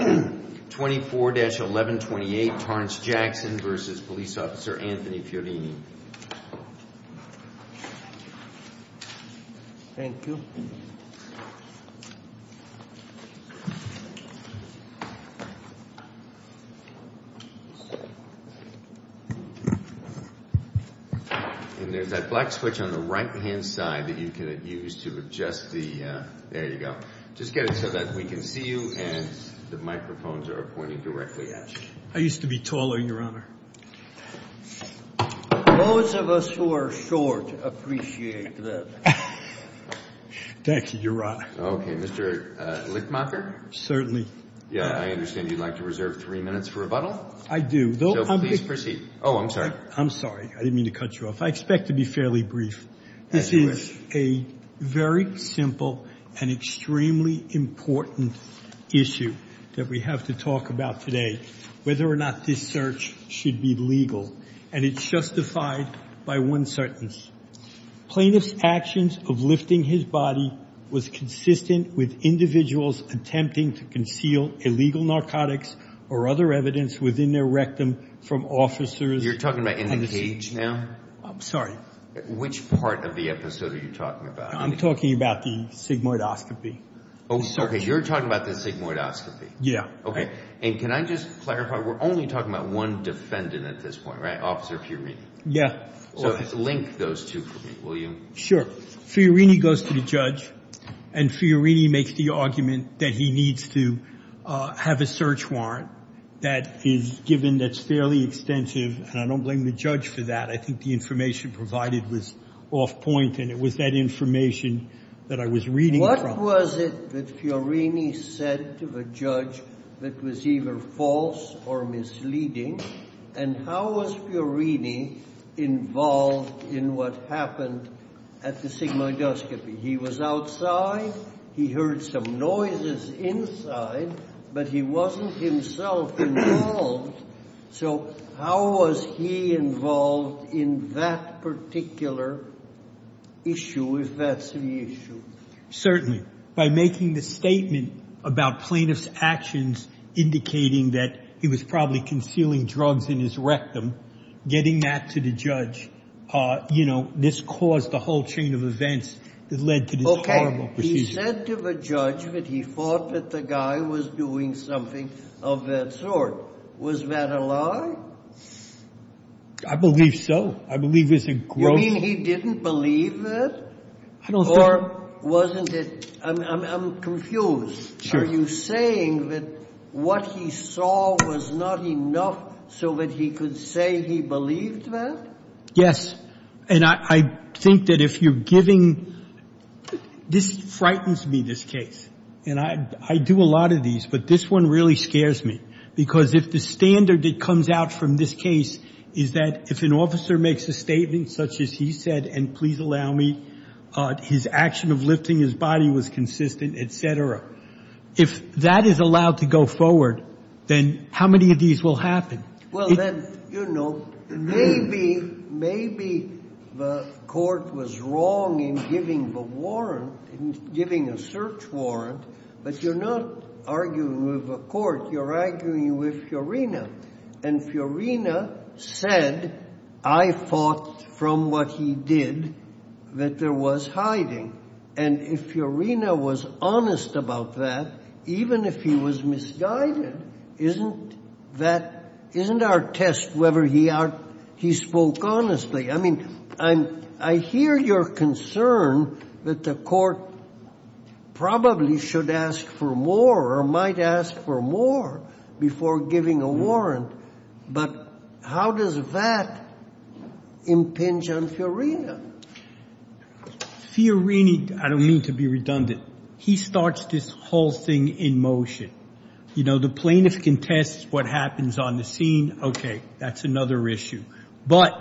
24-1128 Torrance Jackson v. Police Officer Anthony Fiorini. Thank you. And there's that black switch on the right-hand side that you can use to adjust the, there you go. Just get it so that we can see you and the microphones are pointing directly at you. I used to be taller, Your Honor. Those of us who are short appreciate that. Thank you, Your Honor. Okay, Mr. Lichtmacher? Certainly. Yeah, I understand you'd like to reserve three minutes for rebuttal? I do. So please proceed. Oh, I'm sorry. I'm sorry. I didn't mean to cut you off. I expect to be fairly brief. As you wish. There is a very simple and extremely important issue that we have to talk about today, whether or not this search should be legal. And it's justified by one sentence. Plaintiff's actions of lifting his body was consistent with individuals attempting to conceal illegal narcotics or other evidence within their rectum from officers. You're talking about in the cage now? I'm sorry. Which part of the episode are you talking about? I'm talking about the sigmoidoscopy. Oh, okay. You're talking about the sigmoidoscopy? Yeah. Okay. And can I just clarify, we're only talking about one defendant at this point, right, Officer Fiorini? Yeah. So link those two for me, will you? Sure. Fiorini goes to the judge, and Fiorini makes the argument that he needs to have a search warrant that is given that's fairly extensive, and I don't blame the judge for that. I think the information provided was off point, and it was that information that I was reading from. What was it that Fiorini said to the judge that was either false or misleading, and how was Fiorini involved in what happened at the sigmoidoscopy? He was outside. He heard some noises inside, but he wasn't himself involved. So how was he involved in that particular issue, if that's the issue? Certainly. By making the statement about plaintiff's actions indicating that he was probably concealing drugs in his rectum, getting that to the judge, you know, this caused the whole chain of events that led to this horrible procedure. Okay. He said to the judge that he thought that the guy was doing something of that sort. Was that a lie? I believe so. I believe it's a gross— You mean he didn't believe it? I don't think— Or wasn't it—I'm confused. Sure. Are you saying that what he saw was not enough so that he could say he believed that? Yes, and I think that if you're giving—this frightens me, this case, and I do a lot of these, but this one really scares me because if the standard that comes out from this case is that if an officer makes a statement such as he said, and please allow me, his action of lifting his body was consistent, et cetera, if that is allowed to go forward, then how many of these will happen? Well, then, you know, maybe the court was wrong in giving the warrant, in giving a search warrant, but you're not arguing with the court. You're arguing with Fiorina, and Fiorina said, I thought from what he did that there was hiding, and if Fiorina was honest about that, even if he was misguided, isn't that—isn't our test whether he spoke honestly? I mean, I hear your concern that the court probably should ask for more or might ask for more before giving a warrant, but how does that impinge on Fiorina? Fiorina, I don't mean to be redundant, he starts this whole thing in motion. You know, the plaintiff contests what happens on the scene. Okay, that's another issue. But,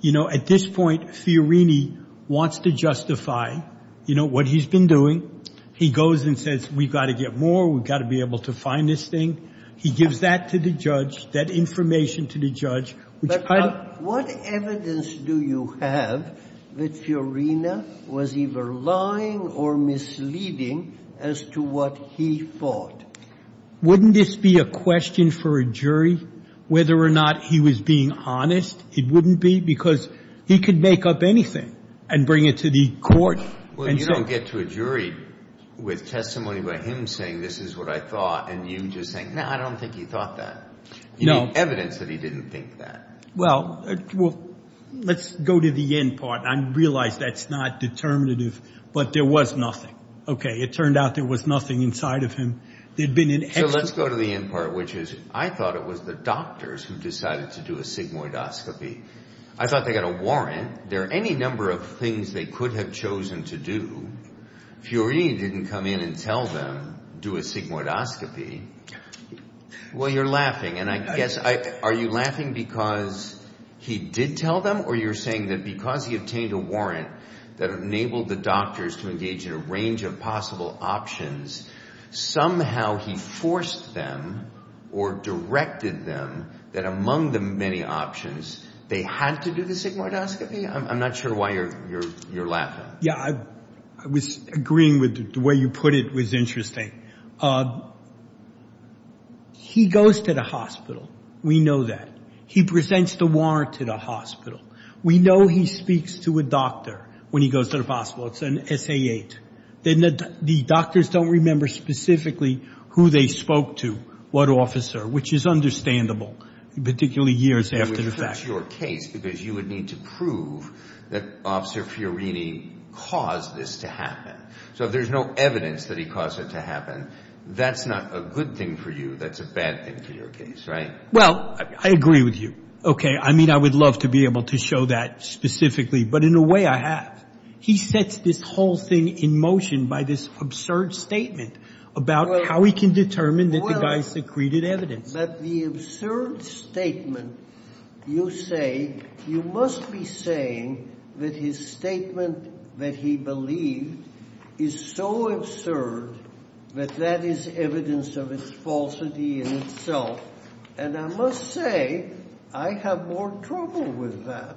you know, at this point, Fiorina wants to justify, you know, what he's been doing. He goes and says, we've got to get more, we've got to be able to find this thing. He gives that to the judge, that information to the judge. But what evidence do you have that Fiorina was either lying or misleading as to what he thought? Wouldn't this be a question for a jury whether or not he was being honest? It wouldn't be because he could make up anything and bring it to the court. Well, you don't get to a jury with testimony by him saying this is what I thought and you just saying, no, I don't think he thought that. No. You need evidence that he didn't think that. Well, let's go to the end part. I realize that's not determinative, but there was nothing. Okay, it turned out there was nothing inside of him. So let's go to the end part, which is I thought it was the doctors who decided to do a sigmoidoscopy. I thought they got a warrant. There are any number of things they could have chosen to do. Fiorina didn't come in and tell them do a sigmoidoscopy. Well, you're laughing, and I guess are you laughing because he did tell them or you're saying that because he obtained a warrant that enabled the doctors to engage in a range of possible options, somehow he forced them or directed them that among the many options they had to do the sigmoidoscopy? I'm not sure why you're laughing. Yeah, I was agreeing with the way you put it was interesting. He goes to the hospital. We know that. He presents the warrant to the hospital. We know he speaks to a doctor when he goes to the hospital. It's an SA-8. The doctors don't remember specifically who they spoke to, what officer, which is understandable, particularly years after the fact. But that's your case because you would need to prove that Officer Fiorini caused this to happen. So if there's no evidence that he caused it to happen, that's not a good thing for you. That's a bad thing for your case, right? Well, I agree with you. Okay. I mean, I would love to be able to show that specifically, but in a way I have. He sets this whole thing in motion by this absurd statement about how he can determine that the guy secreted evidence. But the absurd statement you say, you must be saying that his statement that he believed is so absurd that that is evidence of its falsity in itself. And I must say I have more trouble with that,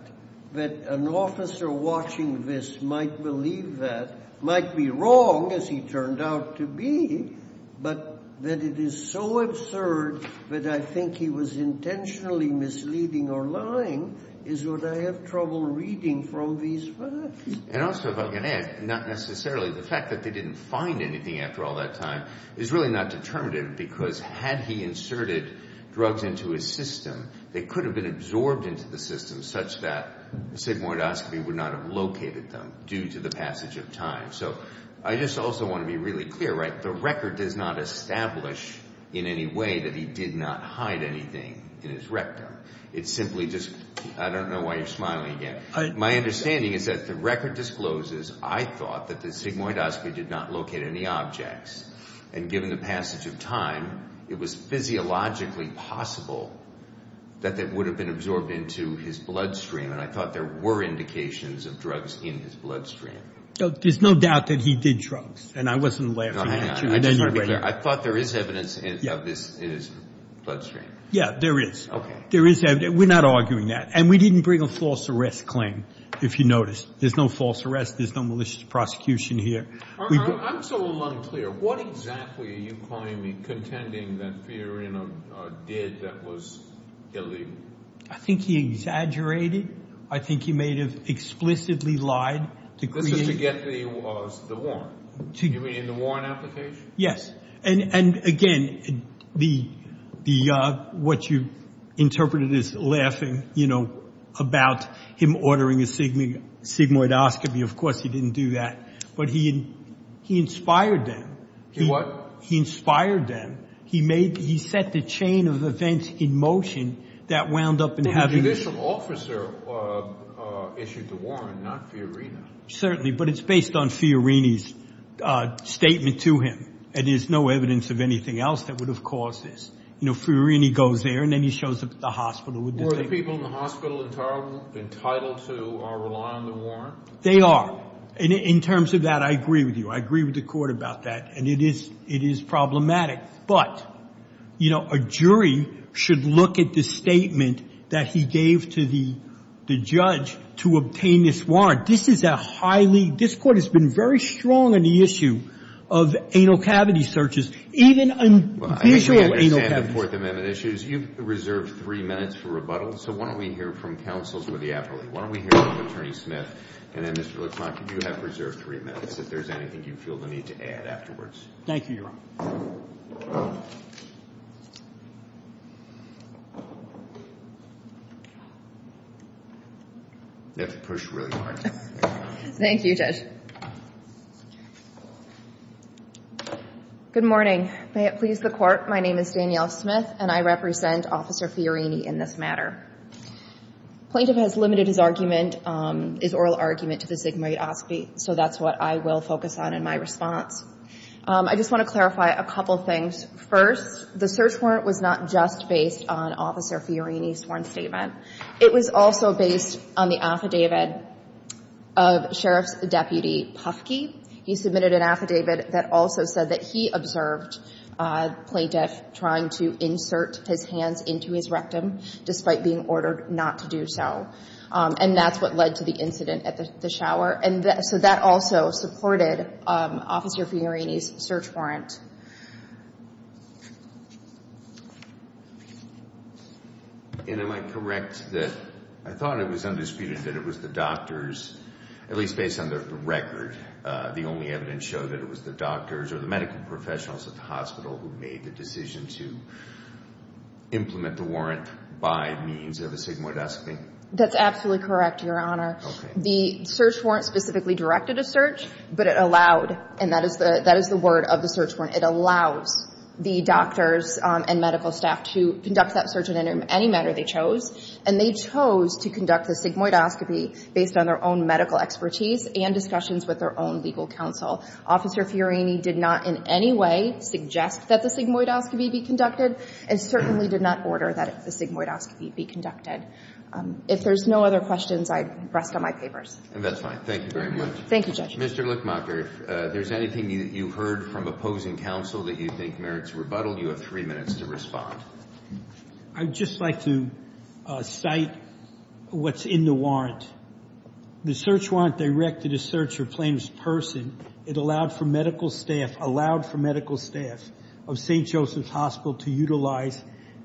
that an officer watching this might believe that, might be wrong, as he turned out to be, but that it is so absurd that I think he was intentionally misleading or lying is what I have trouble reading from these facts. And also, if I can add, not necessarily. The fact that they didn't find anything after all that time is really not determinative because had he inserted drugs into his system, they could have been absorbed into the system such that sigmoidoscopy would not have located them due to the passage of time. So I just also want to be really clear, right? The record does not establish in any way that he did not hide anything in his rectum. It's simply just, I don't know why you're smiling again. My understanding is that the record discloses I thought that the sigmoidoscopy did not locate any objects and given the passage of time, it was physiologically possible that it would have been absorbed into his bloodstream and I thought there were indications of drugs in his bloodstream. There's no doubt that he did drugs and I wasn't laughing at you. I thought there is evidence of this in his bloodstream. Yeah, there is. Okay. There is evidence. We're not arguing that and we didn't bring a false arrest claim, if you notice. There's no false arrest. There's no malicious prosecution here. I'm so unclear. What exactly are you claiming contending that Fiorina did that was illegal? I think he exaggerated. I think he may have explicitly lied. This is to get the warrant. You mean the warrant application? Yes. And, again, what you interpreted as laughing, you know, about him ordering a sigmoidoscopy, of course he didn't do that, but he inspired them. He what? He inspired them. He set the chain of events in motion that wound up in having this. The judicial officer issued the warrant, not Fiorina. Certainly, but it's based on Fiorina's statement to him and there's no evidence of anything else that would have caused this. You know, Fiorina goes there and then he shows up at the hospital with the statement. Were the people in the hospital entitled to or rely on the warrant? They are. In terms of that, I agree with you. I agree with the Court about that and it is problematic. But, you know, a jury should look at the statement that he gave to the judge to obtain this warrant. This is a highly, this Court has been very strong in the issue of anal cavity searches, even in the issue of anal cavity. Well, I understand the Fourth Amendment issues. You've reserved three minutes for rebuttal, so why don't we hear from counsels with the appellate. Why don't we hear from Attorney Smith and then, Mr. LaCroix, you have reserved three minutes if there's anything you feel the need to add afterwards. Thank you, Your Honor. You have to push really hard. Thank you, Judge. Good morning. May it please the Court. My name is Danielle Smith and I represent Officer Fiorini in this matter. Plaintiff has limited his argument, his oral argument, to the sigmoidoscopy, so that's what I will focus on in my response. I just want to clarify. First, the search warrant was not just based on Officer Fiorini's sworn statement. It was also based on the affidavit of Sheriff's Deputy Pufkey. He submitted an affidavit that also said that he observed the plaintiff trying to insert his hands into his rectum, despite being ordered not to do so. And that's what led to the incident at the shower. So that also supported Officer Fiorini's search warrant. Am I correct that I thought it was undisputed that it was the doctors, at least based on the record, the only evidence showed that it was the doctors or the medical professionals at the hospital who made the decision to implement the warrant by means of a sigmoidoscopy? That's absolutely correct, Your Honor. The search warrant specifically directed a search, but it allowed, and that is the word of the search warrant, it allows the doctors and medical staff to conduct that search in any manner they chose. And they chose to conduct the sigmoidoscopy based on their own medical expertise and discussions with their own legal counsel. Officer Fiorini did not in any way suggest that the sigmoidoscopy be conducted and certainly did not order that the sigmoidoscopy be conducted. If there's no other questions, I'd rest on my papers. And that's fine. Thank you very much. Thank you, Judge. Mr. Lichmacher, if there's anything that you heard from opposing counsel that you think merits rebuttal, you have three minutes to respond. I'd just like to cite what's in the warrant. The search warrant directed a search for Plaintiff's person. It allowed for medical staff, allowed for medical staff of St. Joseph's Hospital to utilize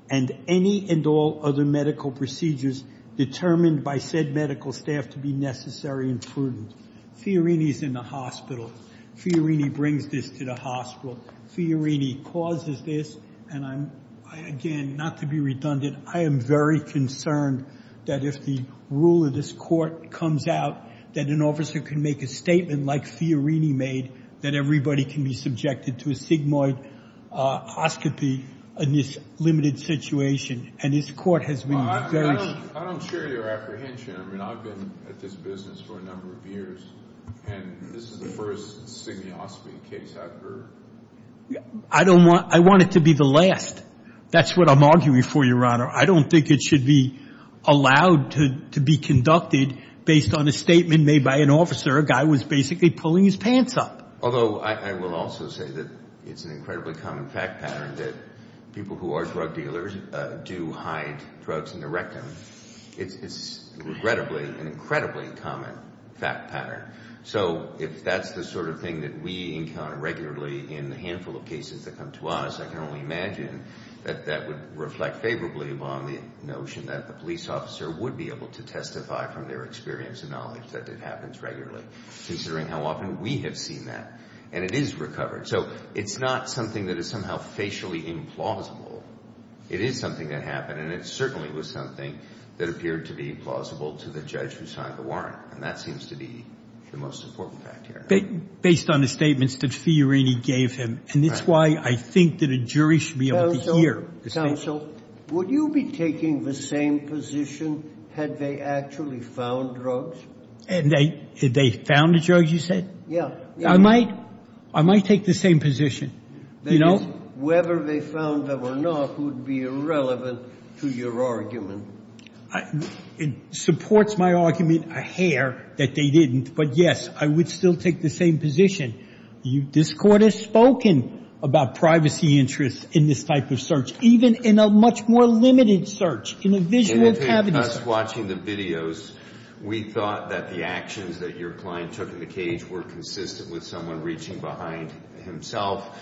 and any and all other medical procedures determined by said medical staff to be necessary and prudent. Fiorini's in the hospital. Fiorini brings this to the hospital. Fiorini causes this, and again, not to be redundant, I am very concerned that if the rule of this court comes out that an officer can make a statement like Fiorini made, that everybody can be subjected to a sigmoidoscopy in this limited situation, and this court has been very strict. I don't share your apprehension. I mean, I've been at this business for a number of years, and this is the first stigmoscopy case I've heard. I want it to be the last. That's what I'm arguing for, Your Honor. I don't think it should be allowed to be conducted based on a statement made by an officer, where a guy was basically pulling his pants up. Although I will also say that it's an incredibly common fact pattern that people who are drug dealers do hide drugs in their rectum. It's regrettably an incredibly common fact pattern. So if that's the sort of thing that we encounter regularly in the handful of cases that come to us, I can only imagine that that would reflect favorably upon the notion that the police officer would be able to testify from their experience and knowledge that it happens regularly, considering how often we have seen that. And it is recovered. So it's not something that is somehow facially implausible. It is something that happened, and it certainly was something that appeared to be plausible to the judge who signed the warrant, and that seems to be the most important fact here. Based on the statements that Fiorini gave him, and it's why I think that a jury should be able to hear. Counsel, would you be taking the same position had they actually found drugs? Had they found a drug, you said? Yeah. I might take the same position. That is, whether they found them or not would be irrelevant to your argument. It supports my argument a hair that they didn't. But, yes, I would still take the same position. This Court has spoken about privacy interests in this type of search, even in a much more limited search, in a visual cavity search. Watching the videos, we thought that the actions that your client took in the cage were consistent with someone reaching behind himself,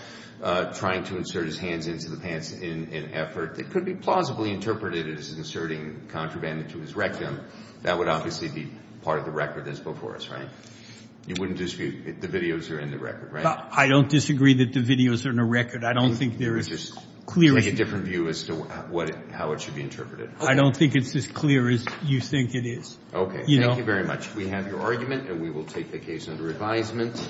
trying to insert his hands into the pants in an effort that could be plausibly interpreted as inserting contraband into his rectum. That would obviously be part of the record that's before us, right? You wouldn't disagree that the videos are in the record, right? I don't disagree that the videos are in the record. I don't think there is a clear view. You would just take a different view as to how it should be interpreted. I don't think it's as clear as you think it is. Okay. Thank you very much. We have your argument, and we will take the case under advisement.